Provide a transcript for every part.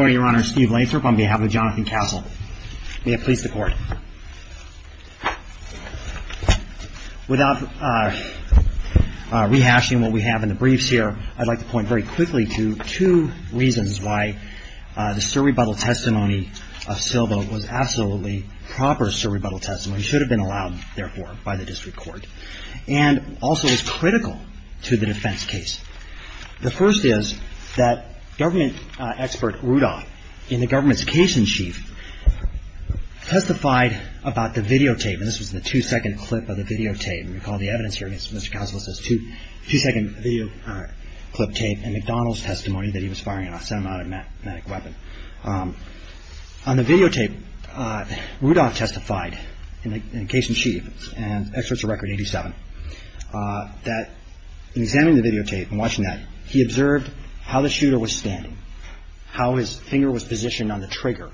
on behalf of Jonathan Castle. May it please the court. Without rehashing what we have in the briefs here, I'd like to point very quickly to two reasons why the should have been allowed, therefore, by the district court, and also is critical to the defense case. The first is that government expert Rudolf, in the government's case in chief, testified about the videotape, and this was the two-second clip of the videotape. If you recall the evidence here against Mr. Castle, it says two-second videoclip tape and McDonald's testimony that he was firing an automatic weapon. On the videotape, Rudolf testified in the case in chief, and experts of record 87, that in examining the videotape and watching that, he observed how the shooter was standing, how his finger was positioned on the trigger,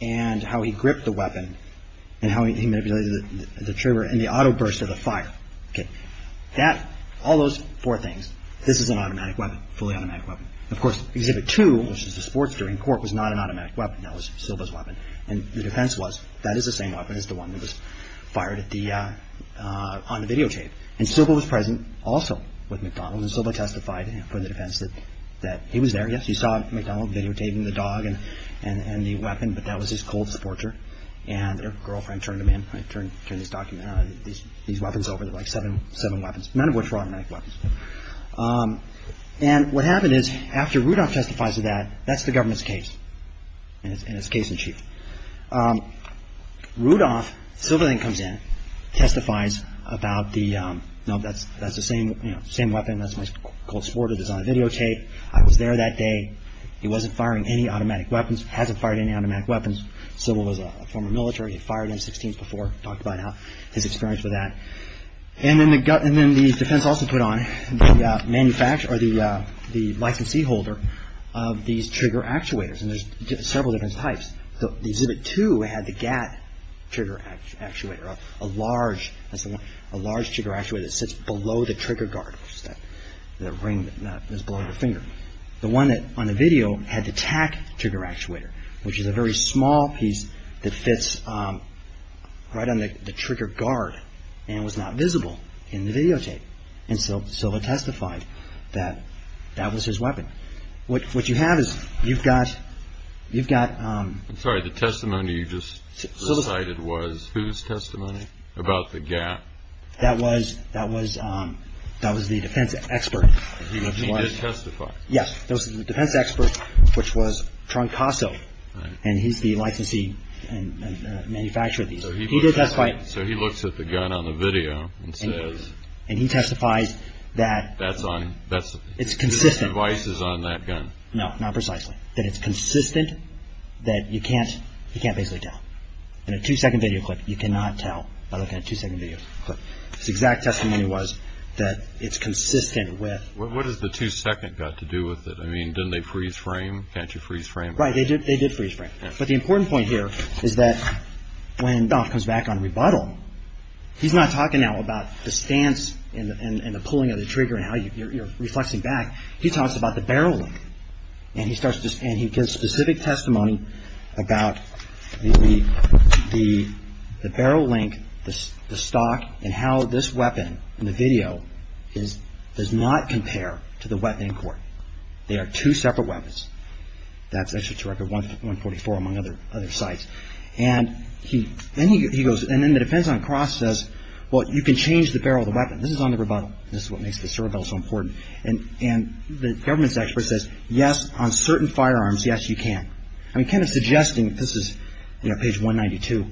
and how he gripped the weapon, and how he manipulated the trigger, and the auto-burst of the fire. All those four things, this is an automatic weapon, fully automatic weapon. Of course, exhibit two, which is the sports during court, was not an automatic weapon. That was Silva's weapon, and the defense was, that is the same weapon as the one that was fired on the videotape. And Silva was present also with McDonald's, and Silva testified for the defense that he was there. Yes, you saw McDonald videotaping the dog and the weapon, but that was his cold sportswear, and their girlfriend turned them in, turned these weapons over, like seven weapons, none of which were automatic weapons. And what happened is, after Rudolf testifies to that, that's the government's case, and it's case in chief. Rudolf, Silva then comes in, testifies about the, no, that's the same weapon, that's my cold sportswear that was on the videotape. I was there that day. He wasn't firing any automatic weapons, hasn't fired any automatic weapons. Silva was a former military. He'd fired M-16s before, talked about his experience with that. And then the defense also put on the licensee holder of these trigger actuators, and there's several different types. The Exhibit 2 had the GAT trigger actuator, a large trigger actuator that sits below the trigger guard, the ring that's below your finger. The one on the video had the TAC trigger actuator, which is a very small piece that fits right on the trigger guard and was not visible in the videotape. And Silva testified that that was his weapon. What you have is, you've got... I'm sorry, the testimony you just cited was whose testimony about the GAT? That was the defense expert. He did testify? Yes, it was the defense expert, which was Troncoso, and he's the licensee and manufacturer of these. So he looks at the gun on the video and says... And he testifies that it's consistent. No, not precisely. That it's consistent, that you can't basically tell. In a two-second video clip, you cannot tell by looking at a two-second video clip. His exact testimony was that it's consistent with... What does the two-second got to do with it? I mean, didn't they freeze frame? Can't you freeze frame? Right, they did freeze frame. But the important point here is that when Doff comes back on rebuttal, he's not talking now about the stance and the pulling of the trigger and how you're reflexing back. He talks about the barrel link. And he gives specific testimony about the barrel link, the stock, and how this weapon in the video does not compare to the weapon in court. They are two separate weapons. That's issued to Record 144, among other sites. And then the defense on the cross says, well, you can change the barrel of the weapon. This is on the rebuttal. This is what makes this rebuttal so important. And the government's expert says, yes, on certain firearms, yes, you can. I'm kind of suggesting, this is page 192,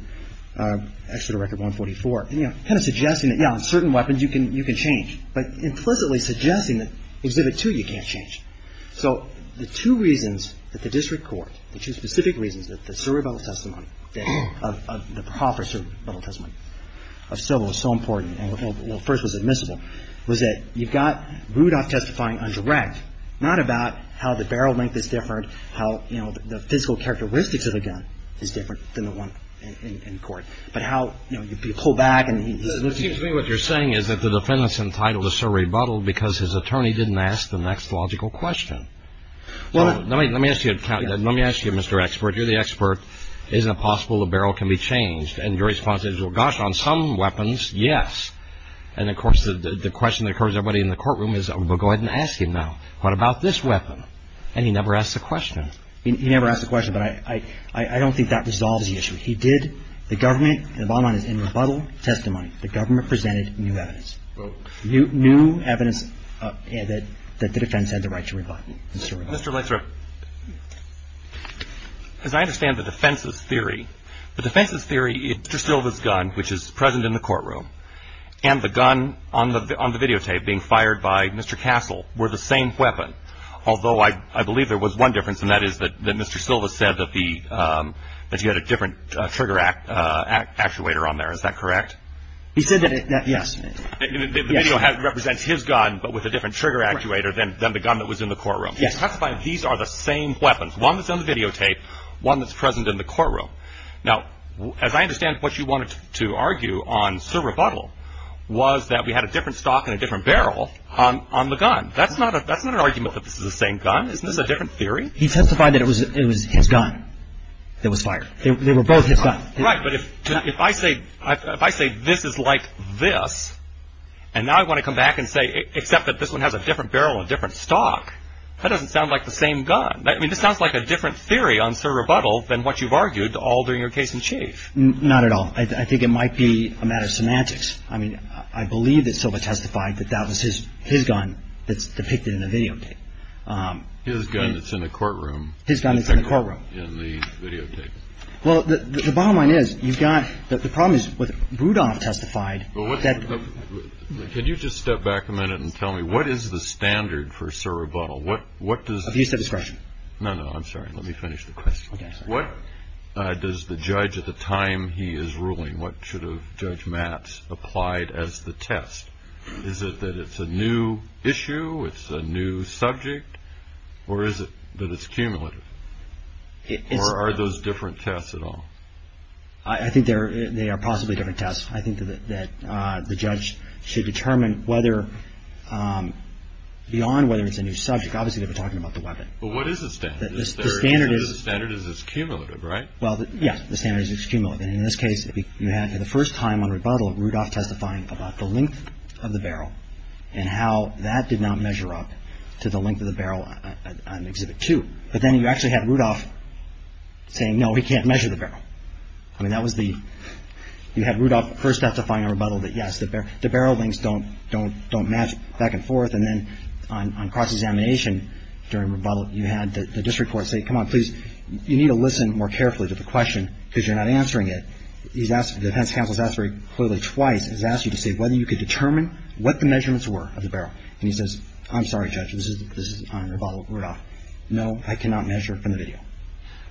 actually the Record 144, kind of suggesting that, yeah, on certain weapons, you can change. But implicitly suggesting that Exhibit 2, you can't change. So the two reasons that the district court, the two specific reasons, that the proffer's rebuttal testimony of Sobo is so important, and at first was admissible, was that you've got Rudolph testifying on direct, not about how the barrel link is different, how the physical characteristics of the gun is different than the one in court, but how, you know, you pull back and he's. It seems to me what you're saying is that the defendant's entitled to serve rebuttal because his attorney didn't ask the next logical question. Well, let me ask you, Mr. Expert. You're the expert. Isn't it possible the barrel can be changed? And your response is, well, gosh, on some weapons, yes. And, of course, the question that occurs to everybody in the courtroom is, well, go ahead and ask him now. What about this weapon? And he never asked the question. He never asked the question, but I don't think that resolves the issue. He did. The government, and the bottom line is, in rebuttal testimony, the government presented new evidence. New evidence that the defense had the right to rebuttal. Mr. Lathrop. As I understand the defense's theory, the defense's theory is Mr. Silva's gun, which is present in the courtroom, and the gun on the videotape being fired by Mr. Castle were the same weapon, although I believe there was one difference, and that is that Mr. Silva said that he had a different trigger actuator on there. Is that correct? He said that, yes. The video represents his gun but with a different trigger actuator than the gun that was in the courtroom. Yes. He testified that these are the same weapons, one that's on the videotape, one that's present in the courtroom. Now, as I understand what you wanted to argue on, sir, rebuttal, was that we had a different stock and a different barrel on the gun. That's not an argument that this is the same gun. Isn't this a different theory? He testified that it was his gun that was fired. They were both his guns. Right, but if I say this is like this, and now I want to come back and say except that this one has a different barrel and different stock, that doesn't sound like the same gun. I mean, this sounds like a different theory on, sir, rebuttal than what you've argued all during your case in chief. Not at all. I think it might be a matter of semantics. I mean, I believe that Silva testified that that was his gun that's depicted in the videotape. His gun that's in the courtroom. His gun that's in the courtroom. In the videotape. Well, the bottom line is you've got the problem is with Rudolf testified that Could you just step back a minute and tell me what is the standard for, sir, rebuttal? What what does the discretion? No, no, I'm sorry. Let me finish the question. What does the judge at the time he is ruling? What should have Judge Matz applied as the test? Is it that it's a new issue? It's a new subject. Or is it that it's cumulative? Or are those different tests at all? I think they are possibly different tests. I think that the judge should determine whether beyond whether it's a new subject. Obviously, they were talking about the weapon. But what is the standard? The standard is cumulative, right? Well, yes, the standard is cumulative. And in this case, you had for the first time on rebuttal Rudolf testifying about the length of the barrel and how that did not measure up to the length of the barrel on Exhibit 2. But then you actually had Rudolf saying, no, he can't measure the barrel. I mean, that was the you had Rudolf first have to find a rebuttal that, yes, the barrel lengths don't match back and forth. And then on cross-examination during rebuttal, you had the district court say, come on, please, you need to listen more carefully to the question because you're not answering it. The defense counsel has asked very clearly twice, has asked you to say whether you could determine what the measurements were of the barrel. And he says, I'm sorry, Judge, this is on rebuttal Rudolf. No, I cannot measure from the video.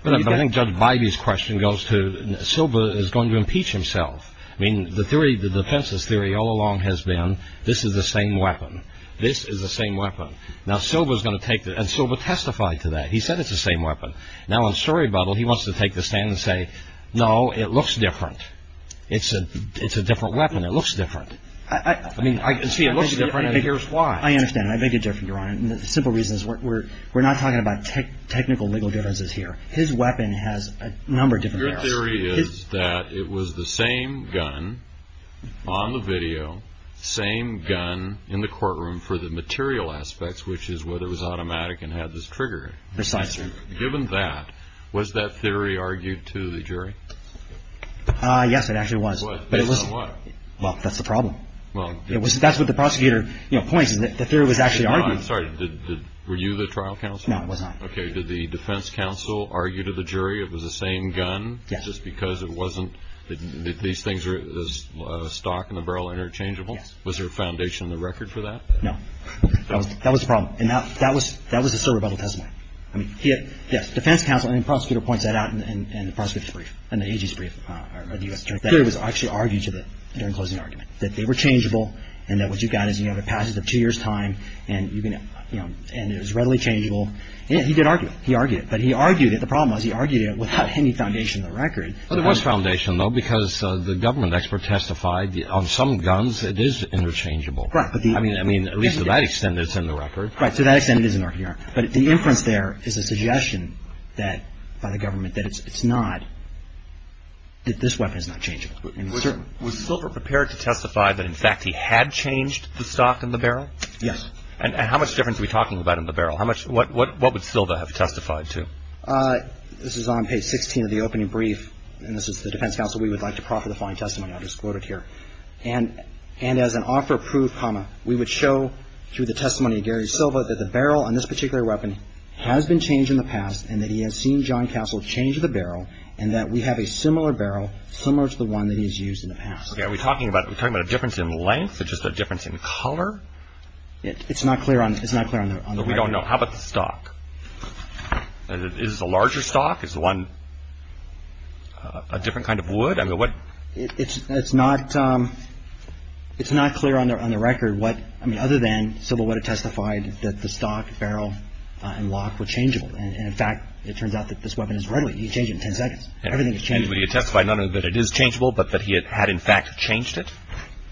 But I think Judge Bybee's question goes to Silber is going to impeach himself. I mean, the theory, the defense's theory all along has been this is the same weapon. This is the same weapon. Now, Silber is going to take it. And Silber testified to that. He said it's the same weapon. Now, on story rebuttal, he wants to take the stand and say, no, it looks different. It's a different weapon. It looks different. I mean, I can see it looks different, and here's why. I understand. I make a difference, Your Honor. The simple reason is we're not talking about technical legal differences here. His weapon has a number of different barrels. Your theory is that it was the same gun on the video, same gun in the courtroom for the material aspects, which is whether it was automatic and had this trigger. Precisely. Given that, was that theory argued to the jury? Yes, it actually was. Based on what? Well, that's the problem. That's what the prosecutor points, and the theory was actually argued. I'm sorry. Were you the trial counsel? No, I was not. Okay. Did the defense counsel argue to the jury it was the same gun just because it wasn't? These things are stock and the barrel interchangeable? Yes. Was there a foundation in the record for that? No. That was the problem. And that was the Silber rebuttal testimony. The defense counsel and the prosecutor points that out in the prosecutor's brief, in the AG's brief. The theory was actually argued during the closing argument that they were changeable and that what you've got is you have a passage of two years' time and it was readily changeable. He did argue it. He argued it. But he argued it. The problem was he argued it without any foundation in the record. Well, there was foundation, though, because the government expert testified on some guns it is interchangeable. Right. I mean, at least to that extent it's in the record. Right. To that extent it is in the record. But the inference there is a suggestion by the government that it's not, that this weapon is not changeable. Was Silber prepared to testify that, in fact, he had changed the stock and the barrel? Yes. And how much difference are we talking about in the barrel? What would Silber have testified to? This is on page 16 of the opening brief. And this is the defense counsel we would like to proffer the following testimony. I'll just quote it here. And as an offer of proof, we would show through the testimony of Gary Silber that the barrel on this particular weapon has been changed in the past and that he has seen John Castle change the barrel and that we have a similar barrel similar to the one that he's used in the past. Are we talking about a difference in length or just a difference in color? It's not clear on the record. We don't know. How about the stock? Is it a larger stock? Is the one a different kind of wood? It's not clear on the record what, I mean, other than Silber would have testified that the stock, barrel, and lock were changeable. And, in fact, it turns out that this weapon is right. He changed it in 10 seconds. Everything is changeable. Would he have testified not only that it is changeable but that he had in fact changed it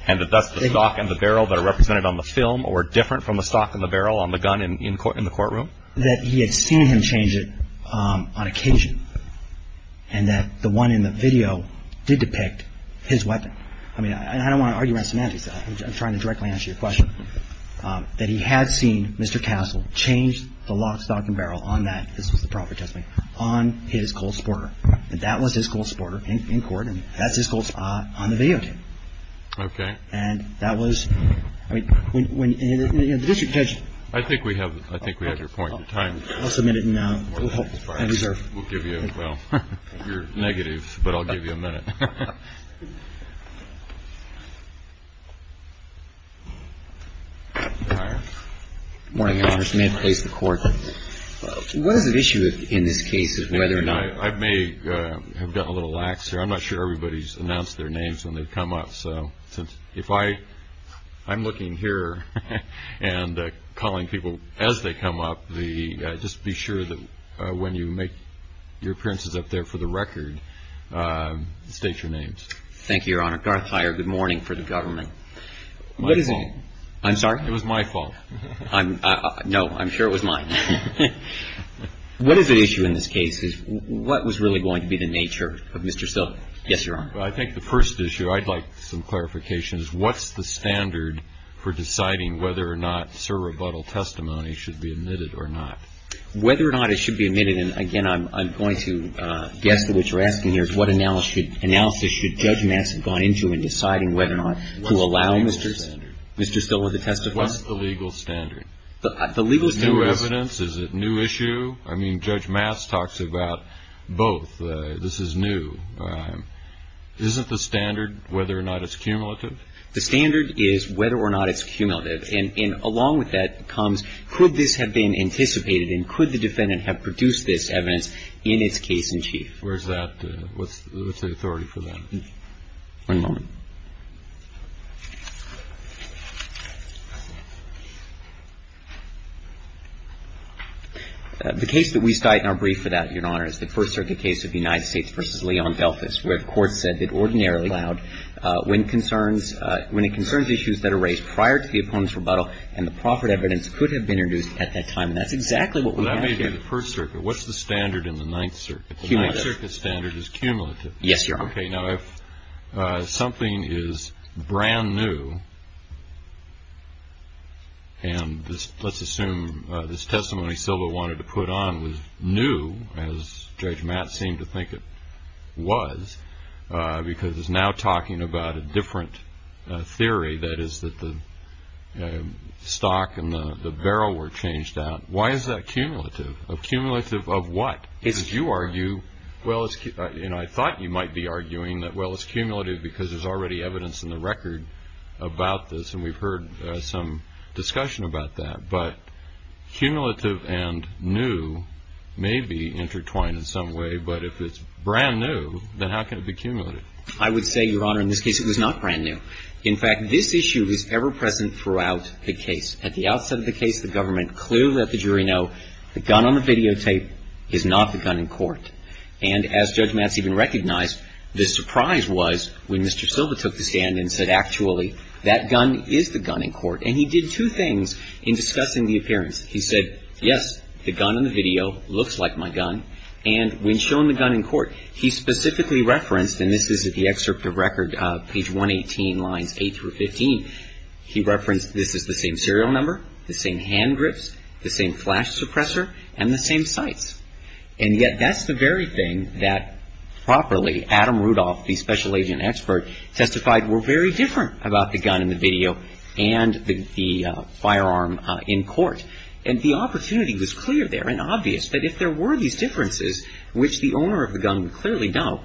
and that that's the stock and the barrel that are represented on the film or different from the stock and the barrel on the gun in the courtroom? That he had seen him change it on occasion and that the one in the video did depict his weapon? I mean, I don't want to argue around semantics. I'm trying to directly answer your question. That he had seen Mr. Castle change the lock, stock, and barrel on that, this was the proper testimony, on his colt supporter. And that was his colt supporter in court, and that's his colt on the video tape. Okay. And that was, I mean, when the district judge. I think we have your point. I'll submit it now. We'll give you, well, you're negative, but I'll give you a minute. Good morning, Your Honors. May it please the Court. What is at issue in this case of whether or not... I may have gotten a little lax here. I'm not sure everybody's announced their names when they've come up. I'm looking here and calling people as they come up. Just be sure that when you make your appearances up there for the record, state your names. Thank you, Your Honor. Garth Heyer, good morning for the government. My fault. I'm sorry? It was my fault. No, I'm sure it was mine. What is at issue in this case? What was really going to be the nature of Mr. Silk? Yes, Your Honor. I think the first issue I'd like some clarification is what's the standard for deciding whether or not Sir Rebuttal testimony should be admitted or not? Whether or not it should be admitted, and, again, I'm going to guess to what you're asking here, is what analysis should Judge Mass have gone into in deciding whether or not to allow Mr. Silk to testify? What's the legal standard? The legal standard is... Is it new evidence? Is it a new issue? I mean, Judge Mass talks about both. This is new. Isn't the standard whether or not it's cumulative? The standard is whether or not it's cumulative, and along with that comes could this have been anticipated and could the defendant have produced this evidence in its case in chief? Where's that? What's the authority for that? One moment. The case that we cite in our brief for that, Your Honor, is the First Circuit case of United States v. Leon Delfis, where the court said that ordinarily allowed when it concerns issues that are raised prior to the opponent's rebuttal and the proffered evidence could have been introduced at that time, and that's exactly what we have here. But that may be the First Circuit. What's the standard in the Ninth Circuit? Cumulative. The Ninth Circuit standard is cumulative. Yes, Your Honor. Okay. Now, if something is brand new, and let's assume this testimony Silva wanted to put on was new, as Judge Mass seemed to think it was, because it's now talking about a different theory, that is that the stock and the barrel were changed out, why is that cumulative? Cumulative of what? Because you argue, well, and I thought you might be arguing that, well, it's cumulative because there's already evidence in the record about this, and we've heard some discussion about that. But cumulative and new may be intertwined in some way, but if it's brand new, then how can it be cumulative? I would say, Your Honor, in this case it was not brand new. In fact, this issue was ever present throughout the case. At the outset of the case, the government clearly let the jury know the gun on the videotape is not the gun in court. And as Judge Mass even recognized, the surprise was when Mr. Silva took the stand and said, actually, that gun is the gun in court. And he did two things in discussing the appearance. He said, yes, the gun on the video looks like my gun. And when shown the gun in court, he specifically referenced, and this is the excerpt of record, page 118, lines 8 through 15, he referenced this is the same serial number, the same hand grips, the same flash suppressor, and the same sights. And yet that's the very thing that properly Adam Rudolph, the special agent expert, testified were very different about the gun in the video and the firearm in court. And the opportunity was clear there and obvious that if there were these differences, which the owner of the gun would clearly know,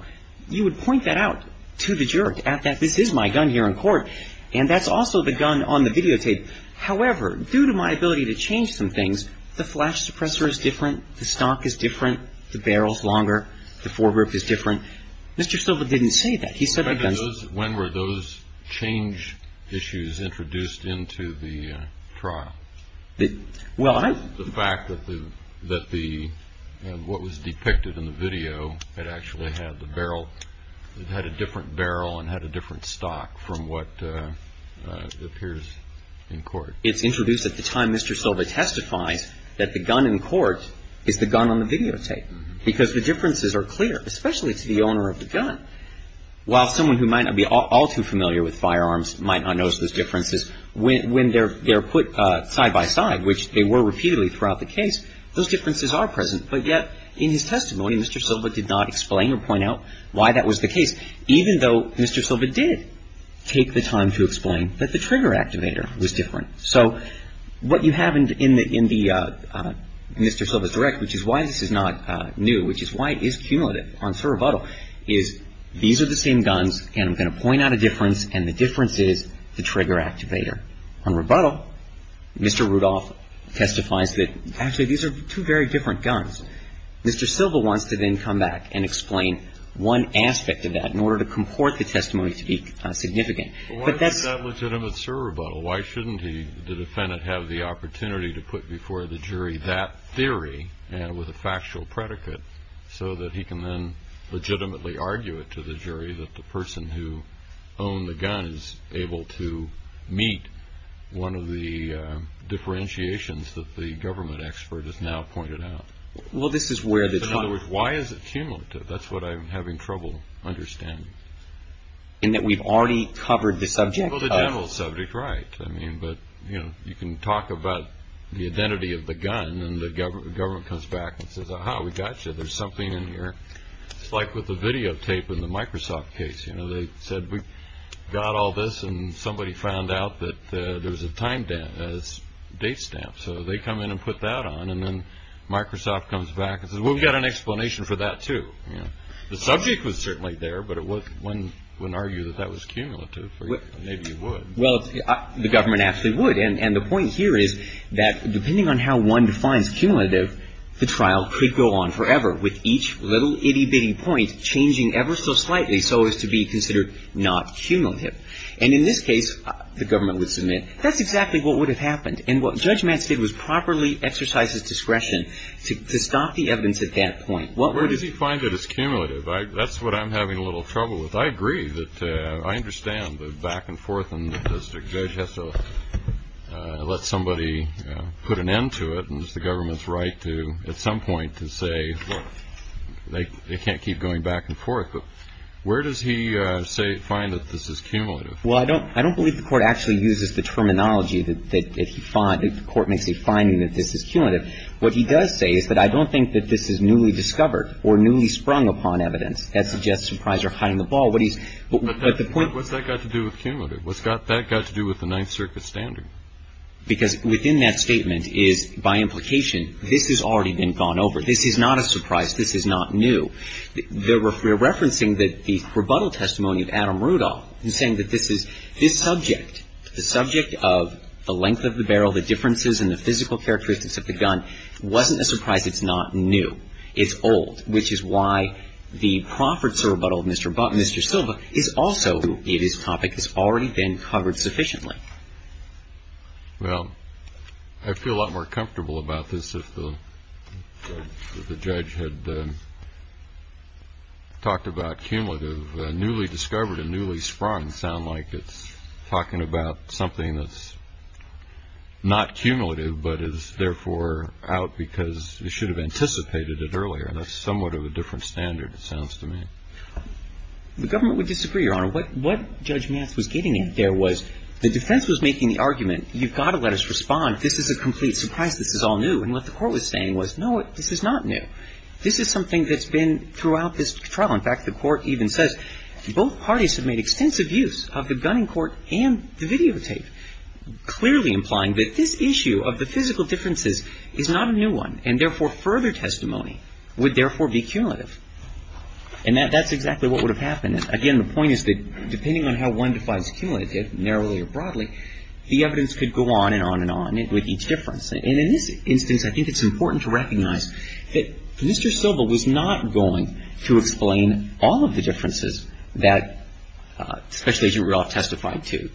you would point that out to the jury, that this is my gun here in court, and that's also the gun on the videotape. However, due to my ability to change some things, the flash suppressor is different. The stock is different. The barrel is longer. The fore grip is different. Mr. Silva didn't say that. He said the gun is. When were those change issues introduced into the trial? Well, I. The fact that the, that the, what was depicted in the video, it actually had the barrel, it had a different barrel and had a different stock from what appears in court. It's introduced at the time Mr. Silva testifies that the gun in court is the gun on the videotape because the differences are clear, especially to the owner of the gun. While someone who might not be all too familiar with firearms might not notice those differences, when they're put side by side, which they were repeatedly throughout the case, those differences are present. But yet in his testimony, Mr. Silva did not explain or point out why that was the case. Even though Mr. Silva did take the time to explain that the trigger activator was different. So what you have in the, in the Mr. Silva's direct, which is why this is not new, which is why it is cumulative on Sir Rebuttal, is these are the same guns and I'm going to point out a difference and the difference is the trigger activator. On Rebuttal, Mr. Rudolph testifies that actually these are two very different guns. Mr. Silva wants to then come back and explain one aspect of that in order to comport the testimony to be significant. But that's. But why is that legitimate Sir Rebuttal? Why shouldn't he, the defendant, have the opportunity to put before the jury that theory and with a factual predicate so that he can then legitimately argue it to the jury that the person who owned the gun is able to meet one of the differentiations that the government expert has now pointed out? Well, this is where the. In other words, why is it cumulative? That's what I'm having trouble understanding. In that we've already covered the subject. Well, the general subject, right. I mean, but, you know, you can talk about the identity of the gun and the government comes back and says, aha, we got you. There's something in here. It's like with the videotape in the Microsoft case. You know, they said we got all this and somebody found out that there was a time date stamp. So they come in and put that on. And then Microsoft comes back and says, well, we've got an explanation for that, too. The subject was certainly there. But it was one would argue that that was cumulative. Maybe you would. Well, the government actually would. And the point here is that depending on how one defines cumulative, the trial could go on forever with each little itty bitty point changing ever so slightly so as to be considered not cumulative. And in this case, the government would submit that's exactly what would have happened. And what Judge Mance did was properly exercise his discretion to stop the evidence at that point. Where does he find that it's cumulative? That's what I'm having a little trouble with. I agree that I understand the back and forth and the district judge has to let somebody put an end to it. And it's the government's right to at some point to say they can't keep going back and forth. But where does he find that this is cumulative? Well, I don't believe the Court actually uses the terminology that the Court makes a finding that this is cumulative. What he does say is that I don't think that this is newly discovered or newly sprung upon evidence. That suggests surprise or hiding the ball. What's that got to do with cumulative? What's that got to do with the Ninth Circuit standard? Because within that statement is, by implication, this has already been gone over. This is not a surprise. This is not new. We're referencing that the rebuttal testimony of Adam Rudolph in saying that this is this subject, the subject of the length of the barrel, the differences in the physical characteristics of the gun, wasn't a surprise. It's not new. It's old, which is why the Profferts' rebuttal of Mr. Silva is also a topic that's already been covered sufficiently. Well, I feel a lot more comfortable about this if the judge had talked about cumulative. Newly discovered and newly sprung sound like it's talking about something that's not cumulative but is therefore out because you should have anticipated it earlier. That's somewhat of a different standard, it sounds to me. The government would disagree, Your Honor. What Judge Matz was getting at there was the defense was making the argument, you've got to let us respond. This is a complete surprise. This is all new. And what the court was saying was, no, this is not new. This is something that's been throughout this trial. In fact, the court even says both parties have made extensive use of the gunning court and the videotape, clearly implying that this issue of the physical differences is not a new one, and therefore further testimony would therefore be cumulative. And that's exactly what would have happened. Again, the point is that depending on how one defines cumulative, narrowly or broadly, the evidence could go on and on and on with each difference. And in this instance, I think it's important to recognize that Mr. Silva was not going to explain all of the differences that Special Agent Rudolph testified to.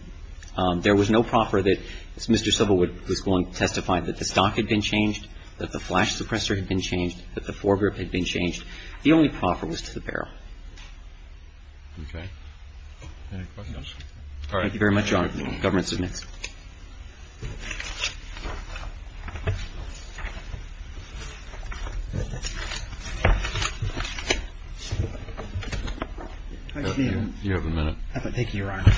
There was no proffer that Mr. Silva was going to testify that the stock had been changed, that the flash suppressor had been changed, that the fore grip had been changed. The only proffer was to the barrel. Okay. Any questions? All right. Thank you very much, Your Honor. Government submits. You have a minute. Thank you, Your Honor.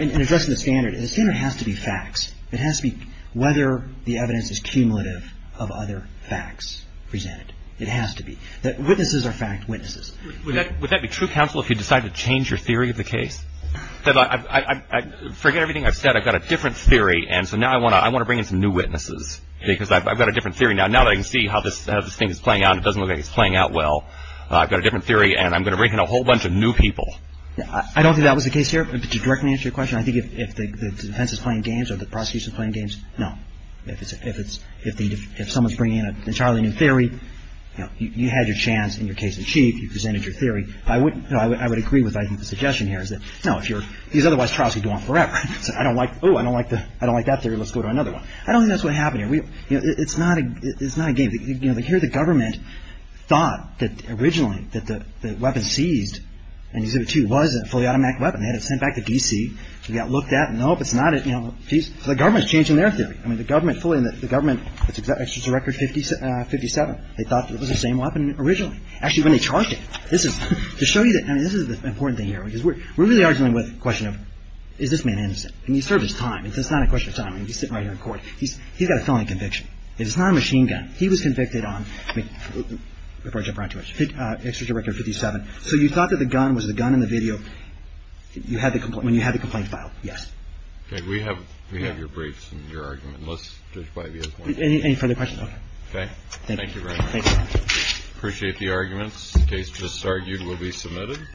In addressing the standard, the standard has to be facts. It has to be whether the evidence is cumulative of other facts presented. It has to be. Witnesses are fact witnesses. Would that be true counsel if you decide to change your theory of the case? Forget everything I've said. I've got a different theory. And so now I want to bring in some new witnesses because I've got a different theory now. Now that I can see how this thing is playing out and it doesn't look like it's playing out well, I've got a different theory and I'm going to bring in a whole bunch of new people. I don't think that was the case here. But to directly answer your question, I think if the defense is playing games or the prosecution is playing games, no. If someone's bringing in an entirely new theory, you had your chance in your case in chief. You presented your theory. I would agree with I think the suggestion here is that, no, if you're – because otherwise trials could go on forever. I don't like – oh, I don't like that theory. Let's go to another one. I don't think that's what happened here. It's not a game. Here the government thought that originally that the weapon seized in Exhibit 2 was a fully automatic weapon. They had it sent back to D.C. It got looked at. Nope, it's not a – the government's changing their theory. I mean, the government fully – the government – it's Executive Director 57. They thought it was the same weapon originally. Actually, when they charged it. This is – to show you that – I mean, this is the important thing here. Because we're really arguing with the question of is this man innocent? And he served his time. It's not a question of time. I mean, he's sitting right here in court. He's got a felony conviction. It's not a machine gun. He was convicted on – before I jump right to it. Executive Director 57. So you thought that the gun was the gun in the video when you had the complaint filed. Yes. Okay. We have your briefs and your argument. Let's just – Any further questions? Okay. Thank you very much. Thank you. Appreciate the arguments. The case just argued will be submitted.